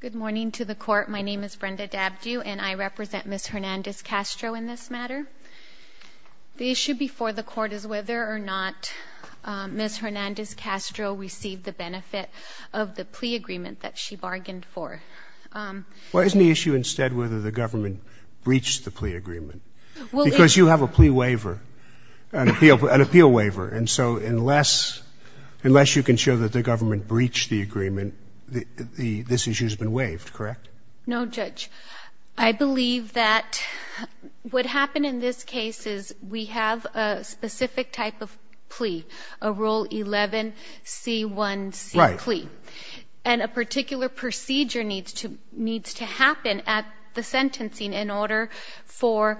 Good morning to the court. My name is Brenda Dabdue, and I represent Ms. Hernandez-Castro in this matter. The issue before the court is whether or not Ms. Hernandez-Castro received the benefit of the plea agreement that she bargained for. Why isn't the issue instead whether the government breached the plea agreement? Because you have a plea waiver, an appeal waiver. And so unless you can show that the government breached the agreement, this issue has been waived, correct? No, Judge. I believe that what happened in this case is we have a specific type of plea, a Rule 11C1C plea. And a particular procedure needs to happen at the sentencing in order for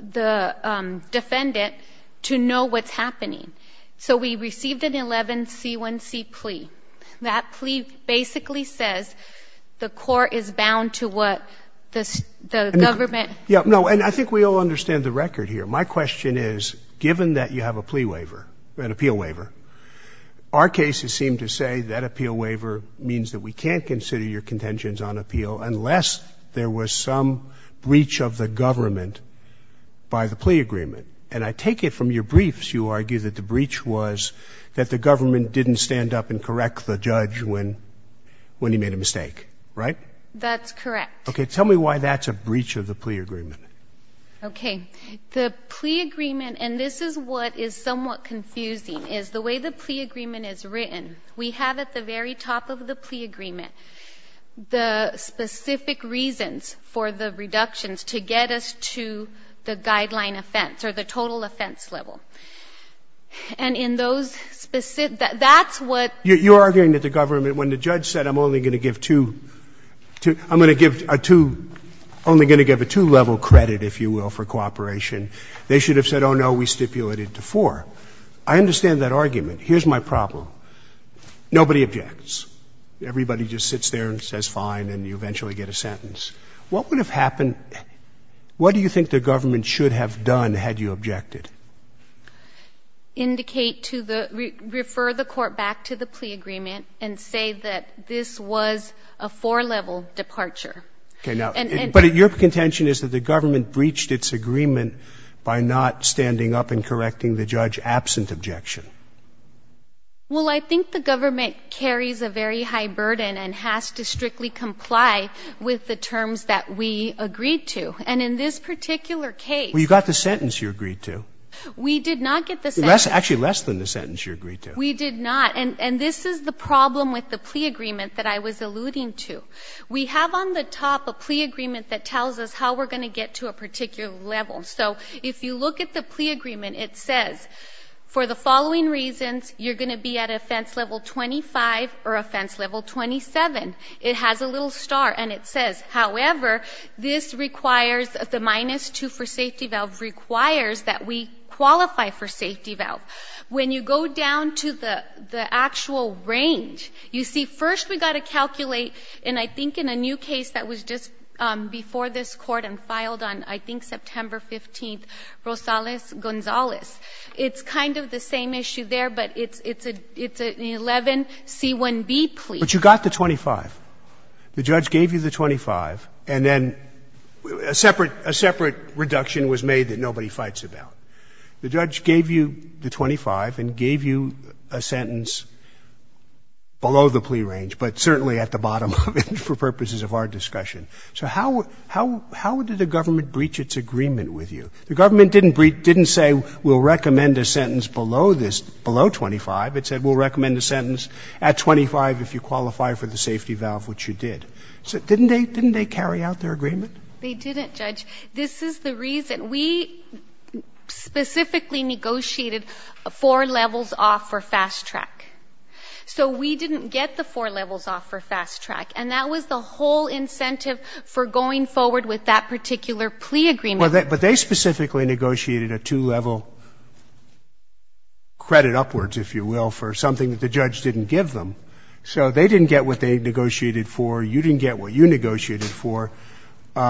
the defendant to know what's happening. So we received an 11C1C plea. That plea basically says the court is bound to what the government — Yeah, no, and I think we all understand the record here. My question is, given that you have a plea waiver, an appeal waiver, our cases seem to say that appeal waiver means that we can't consider your contentions on appeal unless there was some breach of the government by the plea agreement. And I take it from your briefs you argue that the breach was that the government didn't stand up and correct the judge when he made a mistake, right? That's correct. Okay. Tell me why that's a breach of the plea agreement. Okay. The plea agreement, and this is what is somewhat confusing, is the way the plea agreement is written, we have at the very top of the plea agreement the specific reasons for the reductions to get us to the guideline offense or the total offense level. And in those specific — that's what — You're arguing that the government, when the judge said I'm only going to give two — I'm going to give a two — only going to give a two-level credit, if you will, for cooperation, they should have said, oh, no, we stipulated to four. I understand that argument. Here's my problem. Nobody objects. Everybody just sits there and says fine, and you eventually get a sentence. What would have happened — what do you think the government should have done had you objected? Indicate to the — refer the court back to the plea agreement and say that this was a four-level departure. Okay. But your contention is that the government breached its agreement by not standing up and correcting the judge absent objection. Well, I think the government carries a very high burden and has to strictly comply with the terms that we agreed to. And in this particular case — Well, you got the sentence you agreed to. We did not get the sentence. Actually, less than the sentence you agreed to. We did not. And this is the problem with the plea agreement that I was alluding to. We have on the top a plea agreement that tells us how we're going to get to a particular level. So if you look at the plea agreement, it says, for the following reasons, you're going to be at offense level 25 or offense level 27. It has a little star, and it says, however, this requires — the minus 2 for safety valve requires that we qualify for safety valve. When you go down to the actual range, you see, first we've got to calculate, and I think in a new case that was just before this Court and filed on, I think, September 15, Rosales-Gonzalez. It's kind of the same issue there, but it's an 11C1B plea. But you got the 25. The judge gave you the 25, and then a separate — a separate reduction was made that nobody fights about. The judge gave you the 25 and gave you a sentence below the plea range, but certainly at the bottom of it for purposes of our discussion. So how — how did the government breach its agreement with you? The government didn't breach — didn't say, we'll recommend a sentence below this, below 25. It said, we'll recommend a sentence at 25 if you qualify for the safety valve, which you did. Didn't they — didn't they carry out their agreement? They didn't, Judge. This is the reason. We specifically negotiated four levels off for fast track. So we didn't get the four levels off for fast track, and that was the whole incentive for going forward with that particular plea agreement. But they specifically negotiated a two-level credit upwards, if you will, for something that the judge didn't give them. So they didn't get what they negotiated for. You didn't get what you negotiated for. Do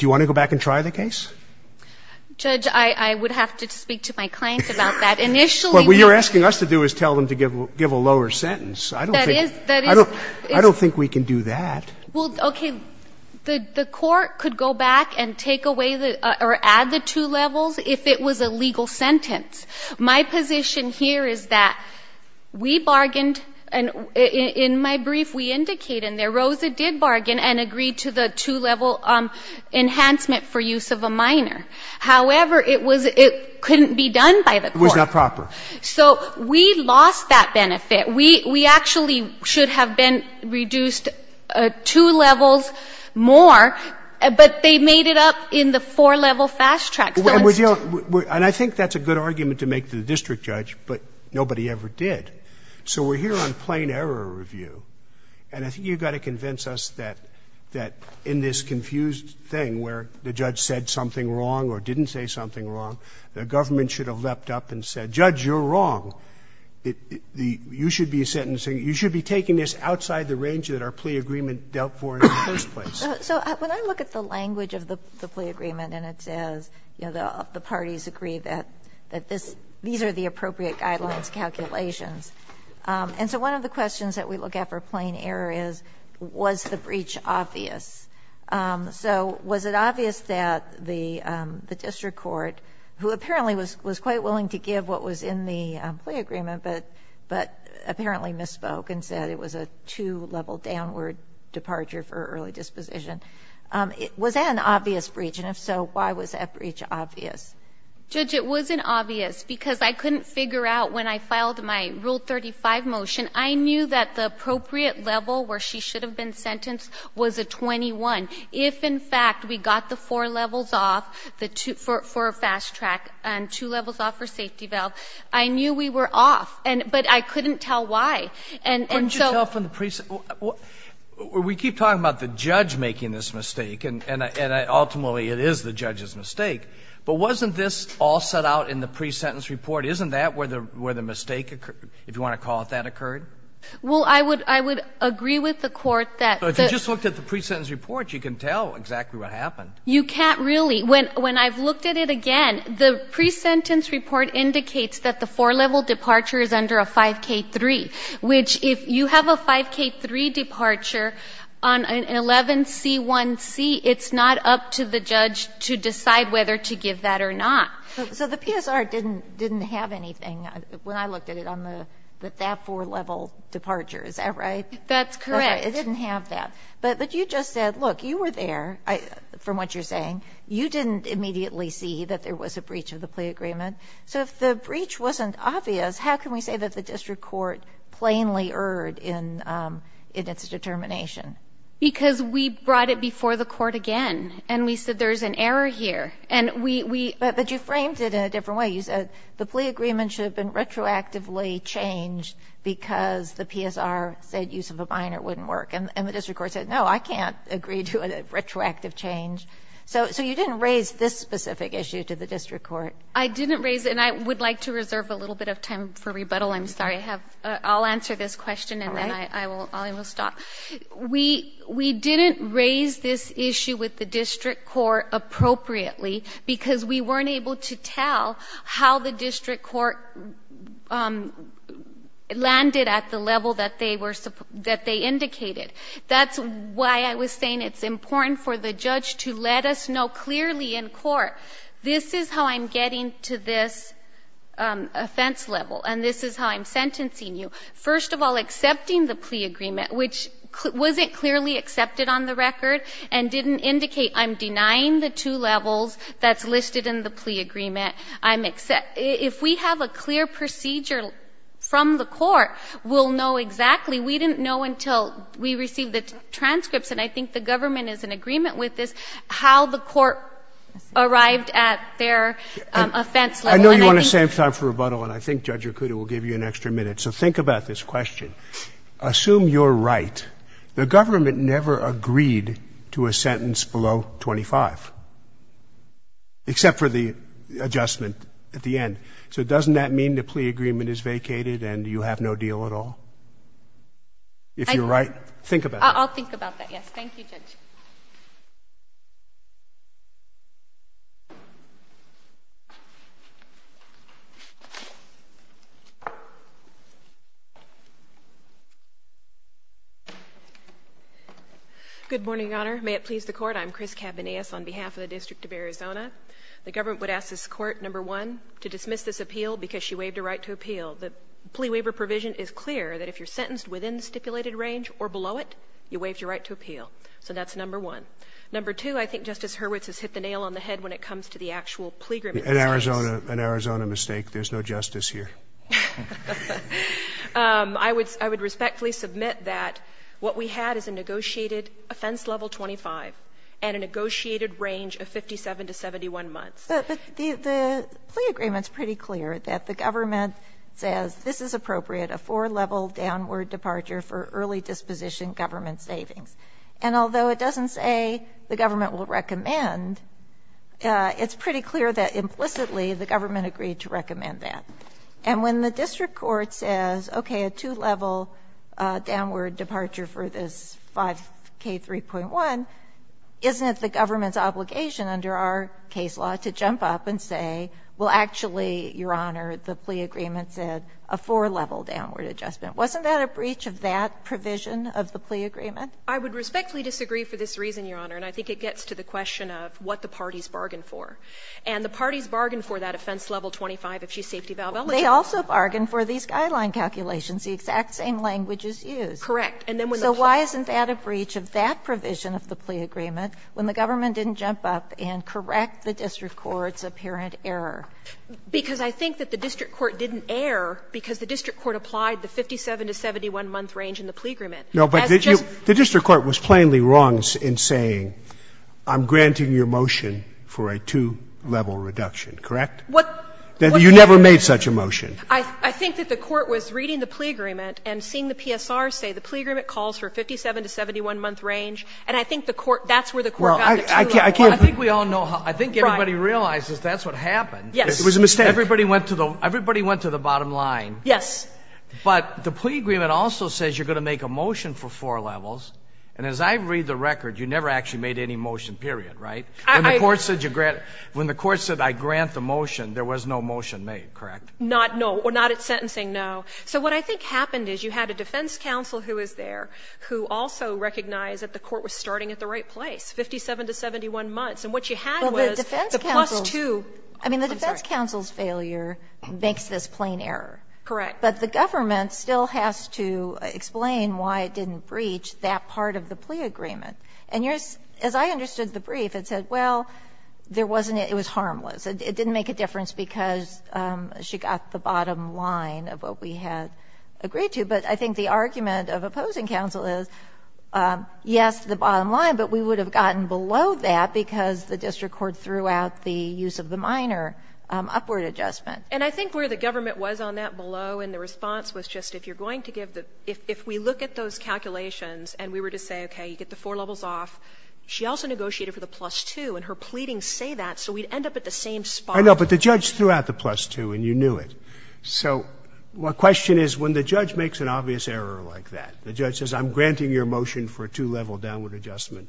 you want to go back and try the case? Judge, I would have to speak to my client about that. Initially, we — What you're asking us to do is tell them to give a lower sentence. I don't think — That is — that is — I don't think we can do that. Well, okay. The court could go back and take away the — or add the two levels if it was a legal sentence. My position here is that we bargained, and in my brief we indicate in there, Rosa did bargain and agree to the two-level enhancement for use of a minor. However, it was — it couldn't be done by the court. It was not proper. So we lost that benefit. We actually should have been reduced two levels more, but they made it up in the four-level fast track. And I think that's a good argument to make to the district judge, but nobody ever did. So we're here on plain error review, and I think you've got to convince us that in this confused thing where the judge said something wrong or didn't say something wrong, the government should have leapt up and said, Judge, you're wrong. You should be sentencing — you should be taking this outside the range that our plea agreement dealt for in the first place. So when I look at the language of the plea agreement and it says, you know, the parties agree that this — these are the appropriate guidelines calculations. And so one of the questions that we look at for plain error is, was the breach obvious? So was it obvious that the district court, who apparently was quite willing to give what was in the plea agreement but apparently misspoke and said it was a two-level downward departure for early disposition, was that an obvious breach? And if so, why was that breach obvious? Judge, it wasn't obvious because I couldn't figure out when I filed my Rule 35 motion, I knew that the appropriate level where she should have been sentenced was a 21. If, in fact, we got the four levels off for a fast track and two levels off for safety valve, I knew we were off. But I couldn't tell why. And so — Couldn't you tell from the pre-sentence — we keep talking about the judge making this mistake, and ultimately it is the judge's mistake, but wasn't this all set out in the pre-sentence report? Isn't that where the mistake occurred, if you want to call it that occurred? Well, I would agree with the Court that — But if you just looked at the pre-sentence report, you can tell exactly what happened. You can't really. When I've looked at it again, the pre-sentence report indicates that the four-level departure is under a 5K3, which if you have a 5K3 departure on an 11C1C, it's not up to the judge to decide whether to give that or not. So the PSR didn't have anything when I looked at it on that four-level departure. Is that right? That's correct. It didn't have that. But you just said, look, you were there from what you're saying. You didn't immediately see that there was a breach of the plea agreement. So if the breach wasn't obvious, how can we say that the district court plainly erred in its determination? Because we brought it before the Court again, and we said there's an error here. But you framed it in a different way. You said the plea agreement should have been retroactively changed because the PSR said use of a minor wouldn't work. And the district court said, no, I can't agree to a retroactive change. So you didn't raise this specific issue to the district court. I didn't raise it. And I would like to reserve a little bit of time for rebuttal. I'm sorry. I'll answer this question, and then I will stop. We didn't raise this issue with the district court appropriately because we weren't able to tell how the district court landed at the level that they indicated. That's why I was saying it's important for the judge to let us know clearly in court, this is how I'm getting to this offense level, and this is how I'm sentencing you. First of all, accepting the plea agreement, which wasn't clearly accepted on the record and didn't indicate I'm denying the two levels that's listed in the plea agreement. If we have a clear procedure from the Court, we'll know exactly. We didn't know until we received the transcripts, and I think the government is in agreement with this, how the Court arrived at their offense level. And I think — I know you want to save time for rebuttal, and I think Judge Rucuda will give you an extra minute. So think about this question. Assume you're right. The government never agreed to a sentence below 25, except for the adjustment at the end. So doesn't that mean the plea agreement is vacated and you have no deal at all? If you're right, think about it. I'll think about that, yes. Thank you, Judge. Good morning, Your Honor. May it please the Court. I'm Chris Cabanillas on behalf of the District of Arizona. The government would ask this Court, number one, to dismiss this appeal because she waived a right to appeal. The plea waiver provision is clear that if you're sentenced within the stipulated range or below it, you waived your right to appeal. So that's number one. Number two, I think Justice Hurwitz has hit the nail on the head when it comes to the actual plea agreement. An Arizona mistake. There's no justice here. I would respectfully submit that what we had is a negotiated offense level 25 and a negotiated range of 57 to 71 months. But the plea agreement is pretty clear that the government says this is appropriate, a four-level downward departure for early disposition government savings. And although it doesn't say the government will recommend, it's pretty clear that implicitly the government agreed to recommend that. And when the district court says, okay, a two-level downward departure for this 5K3.1, isn't it the government's obligation under our case law to jump up and say, well, actually, Your Honor, the plea agreement said a four-level downward adjustment? Wasn't that a breach of that provision of the plea agreement? I would respectfully disagree for this reason, Your Honor. And I think it gets to the question of what the parties bargained for. And the parties bargained for that offense level 25 if she's safety valve eligible. Kagan. They also bargained for these guideline calculations. The exact same language is used. Correct. And then when the plea agreement. So why isn't that a breach of that provision of the plea agreement when the government didn't jump up and correct the district court's apparent error? Because I think that the district court didn't err because the district court applied the 57 to 71-month range in the plea agreement. No, but the district court was plainly wrong in saying, I'm granting your motion again for a two-level reduction, correct? You never made such a motion. I think that the court was reading the plea agreement and seeing the PSR say the plea agreement calls for 57 to 71-month range. And I think the court, that's where the court got the two levels. I think we all know how. I think everybody realizes that's what happened. Yes. It was a mistake. Everybody went to the bottom line. Yes. But the plea agreement also says you're going to make a motion for four levels. And as I read the record, you never actually made any motion, period, right? When the court said you grant the motion, there was no motion made, correct? Not at sentencing, no. So what I think happened is you had a defense counsel who was there who also recognized that the court was starting at the right place, 57 to 71 months. And what you had was the plus 2. I mean, the defense counsel's failure makes this plain error. Correct. But the government still has to explain why it didn't breach that part of the plea agreement. And as I understood the brief, it said, well, there wasn't any, it was harmless. It didn't make a difference because she got the bottom line of what we had agreed to. But I think the argument of opposing counsel is, yes, the bottom line, but we would have gotten below that because the district court threw out the use of the minor upward adjustment. And I think where the government was on that below in the response was just if you're going to give the, if we look at those calculations and we were to say, okay, you have four levels off, she also negotiated for the plus 2 and her pleadings say that so we'd end up at the same spot. I know, but the judge threw out the plus 2 and you knew it. So my question is when the judge makes an obvious error like that, the judge says I'm granting your motion for a two-level downward adjustment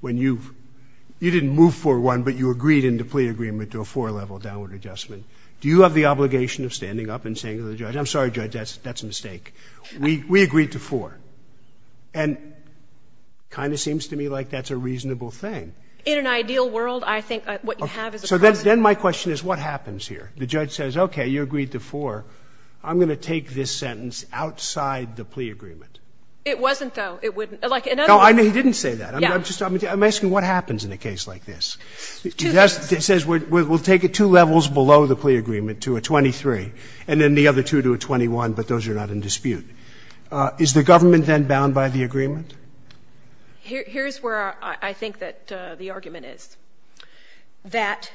when you've, you didn't move for one, but you agreed in the plea agreement to a four-level downward adjustment. Do you have the obligation of standing up and saying to the judge, I'm sorry, judge, that's a mistake. We agreed to four. And kind of seems to me like that's a reasonable thing. In an ideal world, I think what you have is a correct answer. So then my question is what happens here? The judge says, okay, you agreed to four. I'm going to take this sentence outside the plea agreement. It wasn't, though. It wouldn't. Like, in other words. No, he didn't say that. Yeah. I'm asking what happens in a case like this. It says we'll take it two levels below the plea agreement to a 23 and then the other two to a 21, but those are not in dispute. Is the government then bound by the agreement? Here's where I think that the argument is. That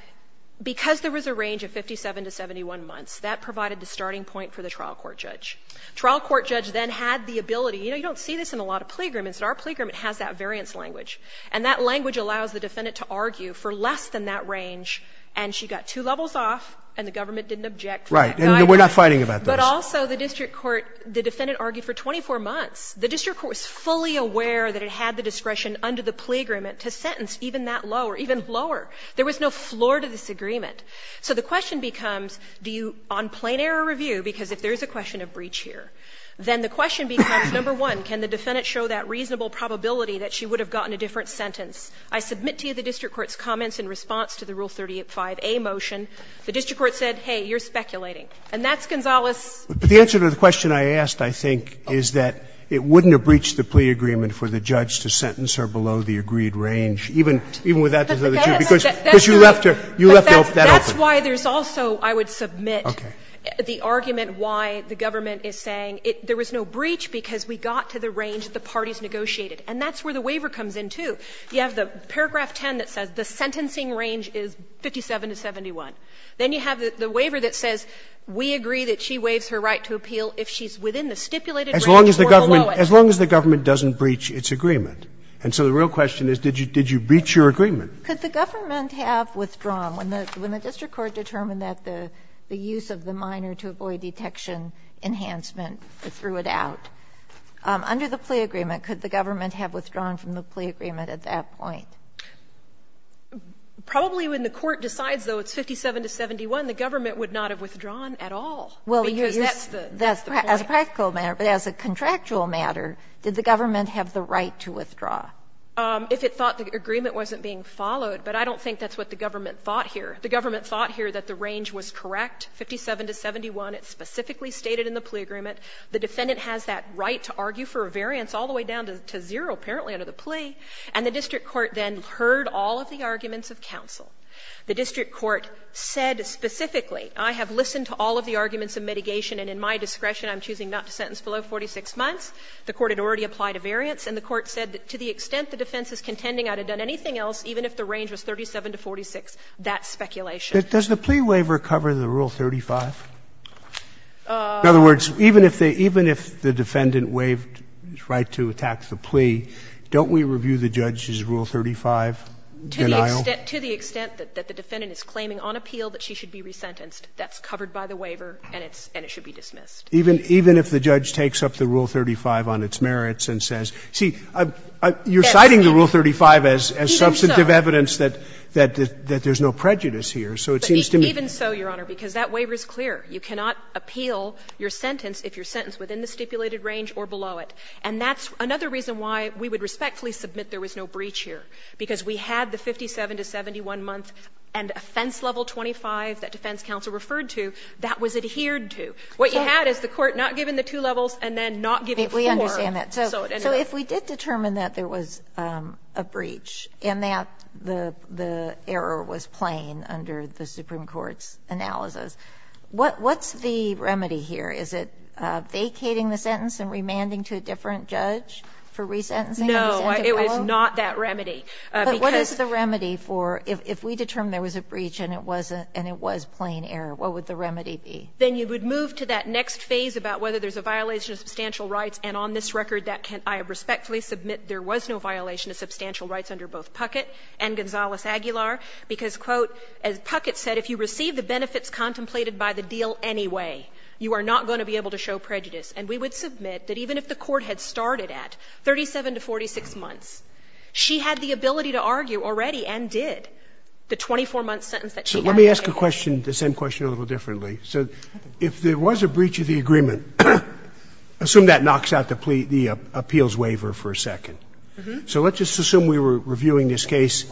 because there was a range of 57 to 71 months, that provided the starting point for the trial court judge. Trial court judge then had the ability. You know, you don't see this in a lot of plea agreements, but our plea agreement has that variance language. And that language allows the defendant to argue for less than that range, and she got two levels off, and the government didn't object. Right. And we're not fighting about this. But also the district court, the defendant argued for 24 months. The district court was fully aware that it had the discretion under the plea agreement to sentence even that low, or even lower. There was no floor to this agreement. So the question becomes, do you, on plain error review, because if there is a question of breach here, then the question becomes, number one, can the defendant show that reasonable probability that she would have gotten a different sentence? I submit to you the district court's comments in response to the Rule 35a motion. The district court said, hey, you're speculating. And that's Gonzalez's. But the answer to the question I asked, I think, is that it wouldn't have breached the plea agreement for the judge to sentence her below the agreed range, even without the other two, because you left her, you left that open. That's why there's also, I would submit, the argument why the government is saying there was no breach because we got to the range the parties negotiated. And that's where the waiver comes in, too. You have the paragraph 10 that says the sentencing range is 57 to 71. Then you have the waiver that says we agree that she waives her right to appeal if she's within the stipulated range or below it. Scalia. As long as the government doesn't breach its agreement. And so the real question is, did you breach your agreement? Kagan. Could the government have withdrawn when the district court determined that the use of the minor to avoid detection enhancement threw it out? Under the plea agreement, could the government have withdrawn from the plea agreement at that point? Probably when the court decides, though, it's 57 to 71, the government would not have withdrawn at all, because that's the point. Well, as a practical matter, but as a contractual matter, did the government have the right to withdraw? If it thought the agreement wasn't being followed. But I don't think that's what the government thought here. The government thought here that the range was correct, 57 to 71. It's specifically stated in the plea agreement. The defendant has that right to argue for a variance all the way down to zero, apparently, under the plea. And the district court then heard all of the arguments of counsel. The district court said specifically, I have listened to all of the arguments of mitigation, and in my discretion, I'm choosing not to sentence below 46 months. The court had already applied a variance, and the court said that to the extent the defense is contending I'd have done anything else, even if the range was 37 to 46, that's speculation. Does the plea waiver cover the Rule 35? In other words, even if they – even if the defendant waived his right to attack the plea, don't we review the judge's Rule 35 denial? To the extent that the defendant is claiming on appeal that she should be resentenced, that's covered by the waiver and it's – and it should be dismissed. Even if the judge takes up the Rule 35 on its merits and says – see, you're citing the Rule 35 as substantive evidence that there's no prejudice here, so it seems to me – Even so, Your Honor, because that waiver is clear. You cannot appeal your sentence if you're sentenced within the stipulated range or below it. And that's another reason why we would respectfully submit there was no breach here, because we had the 57 to 71 month and offense level 25 that defense counsel referred to that was adhered to. What you had is the court not giving the two levels and then not giving four. So anyway. Kagan. So if we did determine that there was a breach and that the error was plain under the Supreme Court's analysis, what's the remedy here? Is it vacating the sentence and remanding to a different judge for resentencing and resentment below? No, it was not that remedy, because the remedy for – if we determined there was a breach and it wasn't – and it was plain error, what would the remedy be? Then you would move to that next phase about whether there's a violation of substantial rights, and on this record, that can – I respectfully submit there was no violation of substantial rights under both Puckett and Gonzales-Aguilar, because, quote, as Puckett said, if you receive the benefits contemplated by the deal anyway, you are not going to be able to show prejudice. And we would submit that even if the court had started at 37 to 46 months, she had the ability to argue already and did the 24-month sentence that she had. So let me ask a question, the same question a little differently. So if there was a breach of the agreement, assume that knocks out the appeals waiver for a second. So let's just assume we were reviewing this case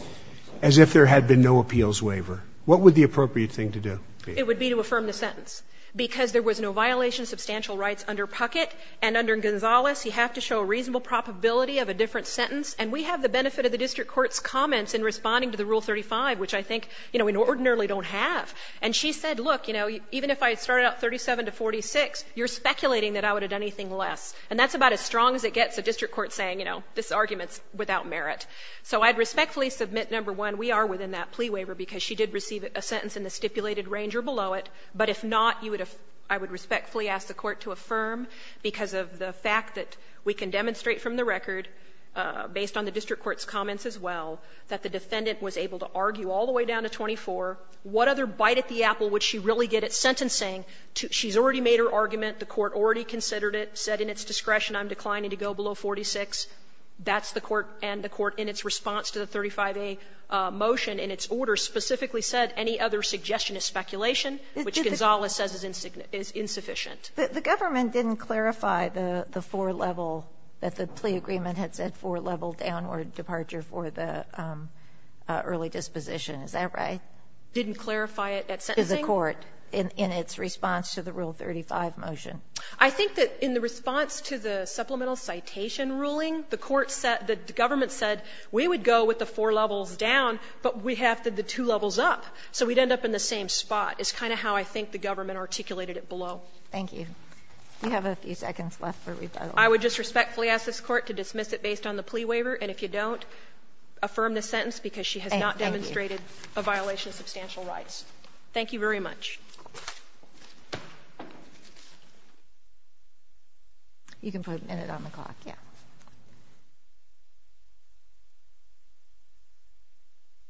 as if there had been no appeals waiver. What would the appropriate thing to do be? It would be to affirm the sentence, because there was no violation of substantial rights under Puckett and under Gonzales, you have to show a reasonable probability of a different sentence. And we have the benefit of the district court's comments in responding to the Rule 35, which I think we ordinarily don't have. And she said, look, you know, even if I had started out 37 to 46, you're speculating that I would have done anything less. And that's about as strong as it gets, a district court saying, you know, this argument is without merit. So I'd respectfully submit, number one, we are within that plea waiver, because she did receive a sentence in the stipulated range or below it. But if not, I would respectfully ask the Court to affirm, because of the fact that we can demonstrate from the record, based on the district court's comments as well, that the defendant was able to argue all the way down to 24. What other bite at the apple would she really get at sentencing? She's already made her argument. The Court already considered it, said in its discretion, I'm declining to go below 46. That's the Court and the Court in its response to the 35a motion, in its order specifically said, any other suggestion is speculation, which Gonzales says is insufficient. The government didn't clarify the four-level, that the plea agreement had said four-level downward departure for the early disposition, is that right? Didn't clarify it at sentencing? Is the Court, in its response to the Rule 35 motion? I think that in the response to the supplemental citation ruling, the Court said the government said, we would go with the four levels down, but we have the two levels up, so we'd end up in the same spot, is kind of how I think the government articulated it below. Thank you. You have a few seconds left for rebuttal. I would just respectfully ask this Court to dismiss it based on the plea waiver, and if you don't, affirm the sentence because she has not demonstrated a violation of substantial rights. Thank you very much. You can put a minute on the clock, yeah.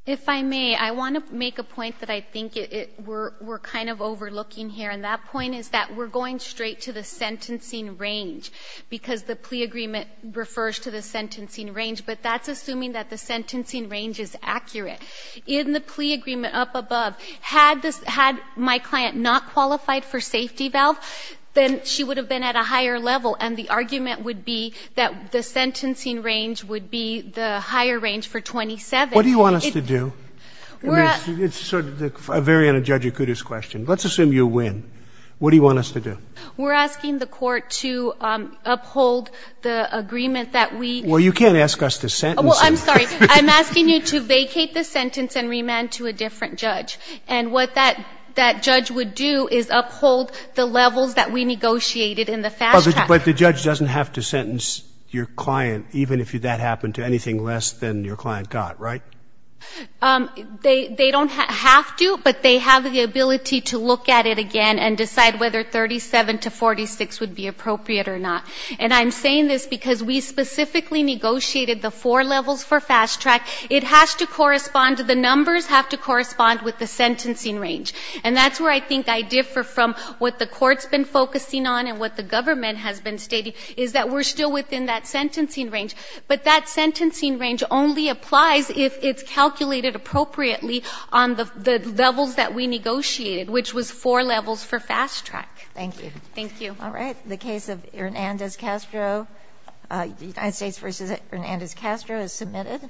If I may, I want to make a point that I think we're kind of overlooking here, and that point is that we're going straight to the sentencing range, because the plea agreement refers to the sentencing range, but that's assuming that the sentencing range is accurate. In the plea agreement up above, had my client not qualified for safety valve, then she would have been at a higher level, and the argument would be that the sentencing range would be the higher range for 27. What do you want us to do? I mean, it's sort of a very un-Judge Akutu's question. Let's assume you win. What do you want us to do? We're asking the Court to uphold the agreement that we... Well, you can't ask us to sentence you. Well, I'm sorry. I'm asking you to vacate the sentence and remand to a different judge, and what that But the judge doesn't have to sentence your client, even if that happened to anything less than your client got, right? They don't have to, but they have the ability to look at it again and decide whether 37 to 46 would be appropriate or not. And I'm saying this because we specifically negotiated the four levels for fast track. It has to correspond to the numbers, have to correspond with the sentencing range. And that's where I think I differ from what the Court's been focusing on and what the government has been stating, is that we're still within that sentencing range. But that sentencing range only applies if it's calculated appropriately on the levels that we negotiated, which was four levels for fast track. Thank you. Thank you. All right. The case of Hernandez-Castro, United States v. Hernandez-Castro is submitted.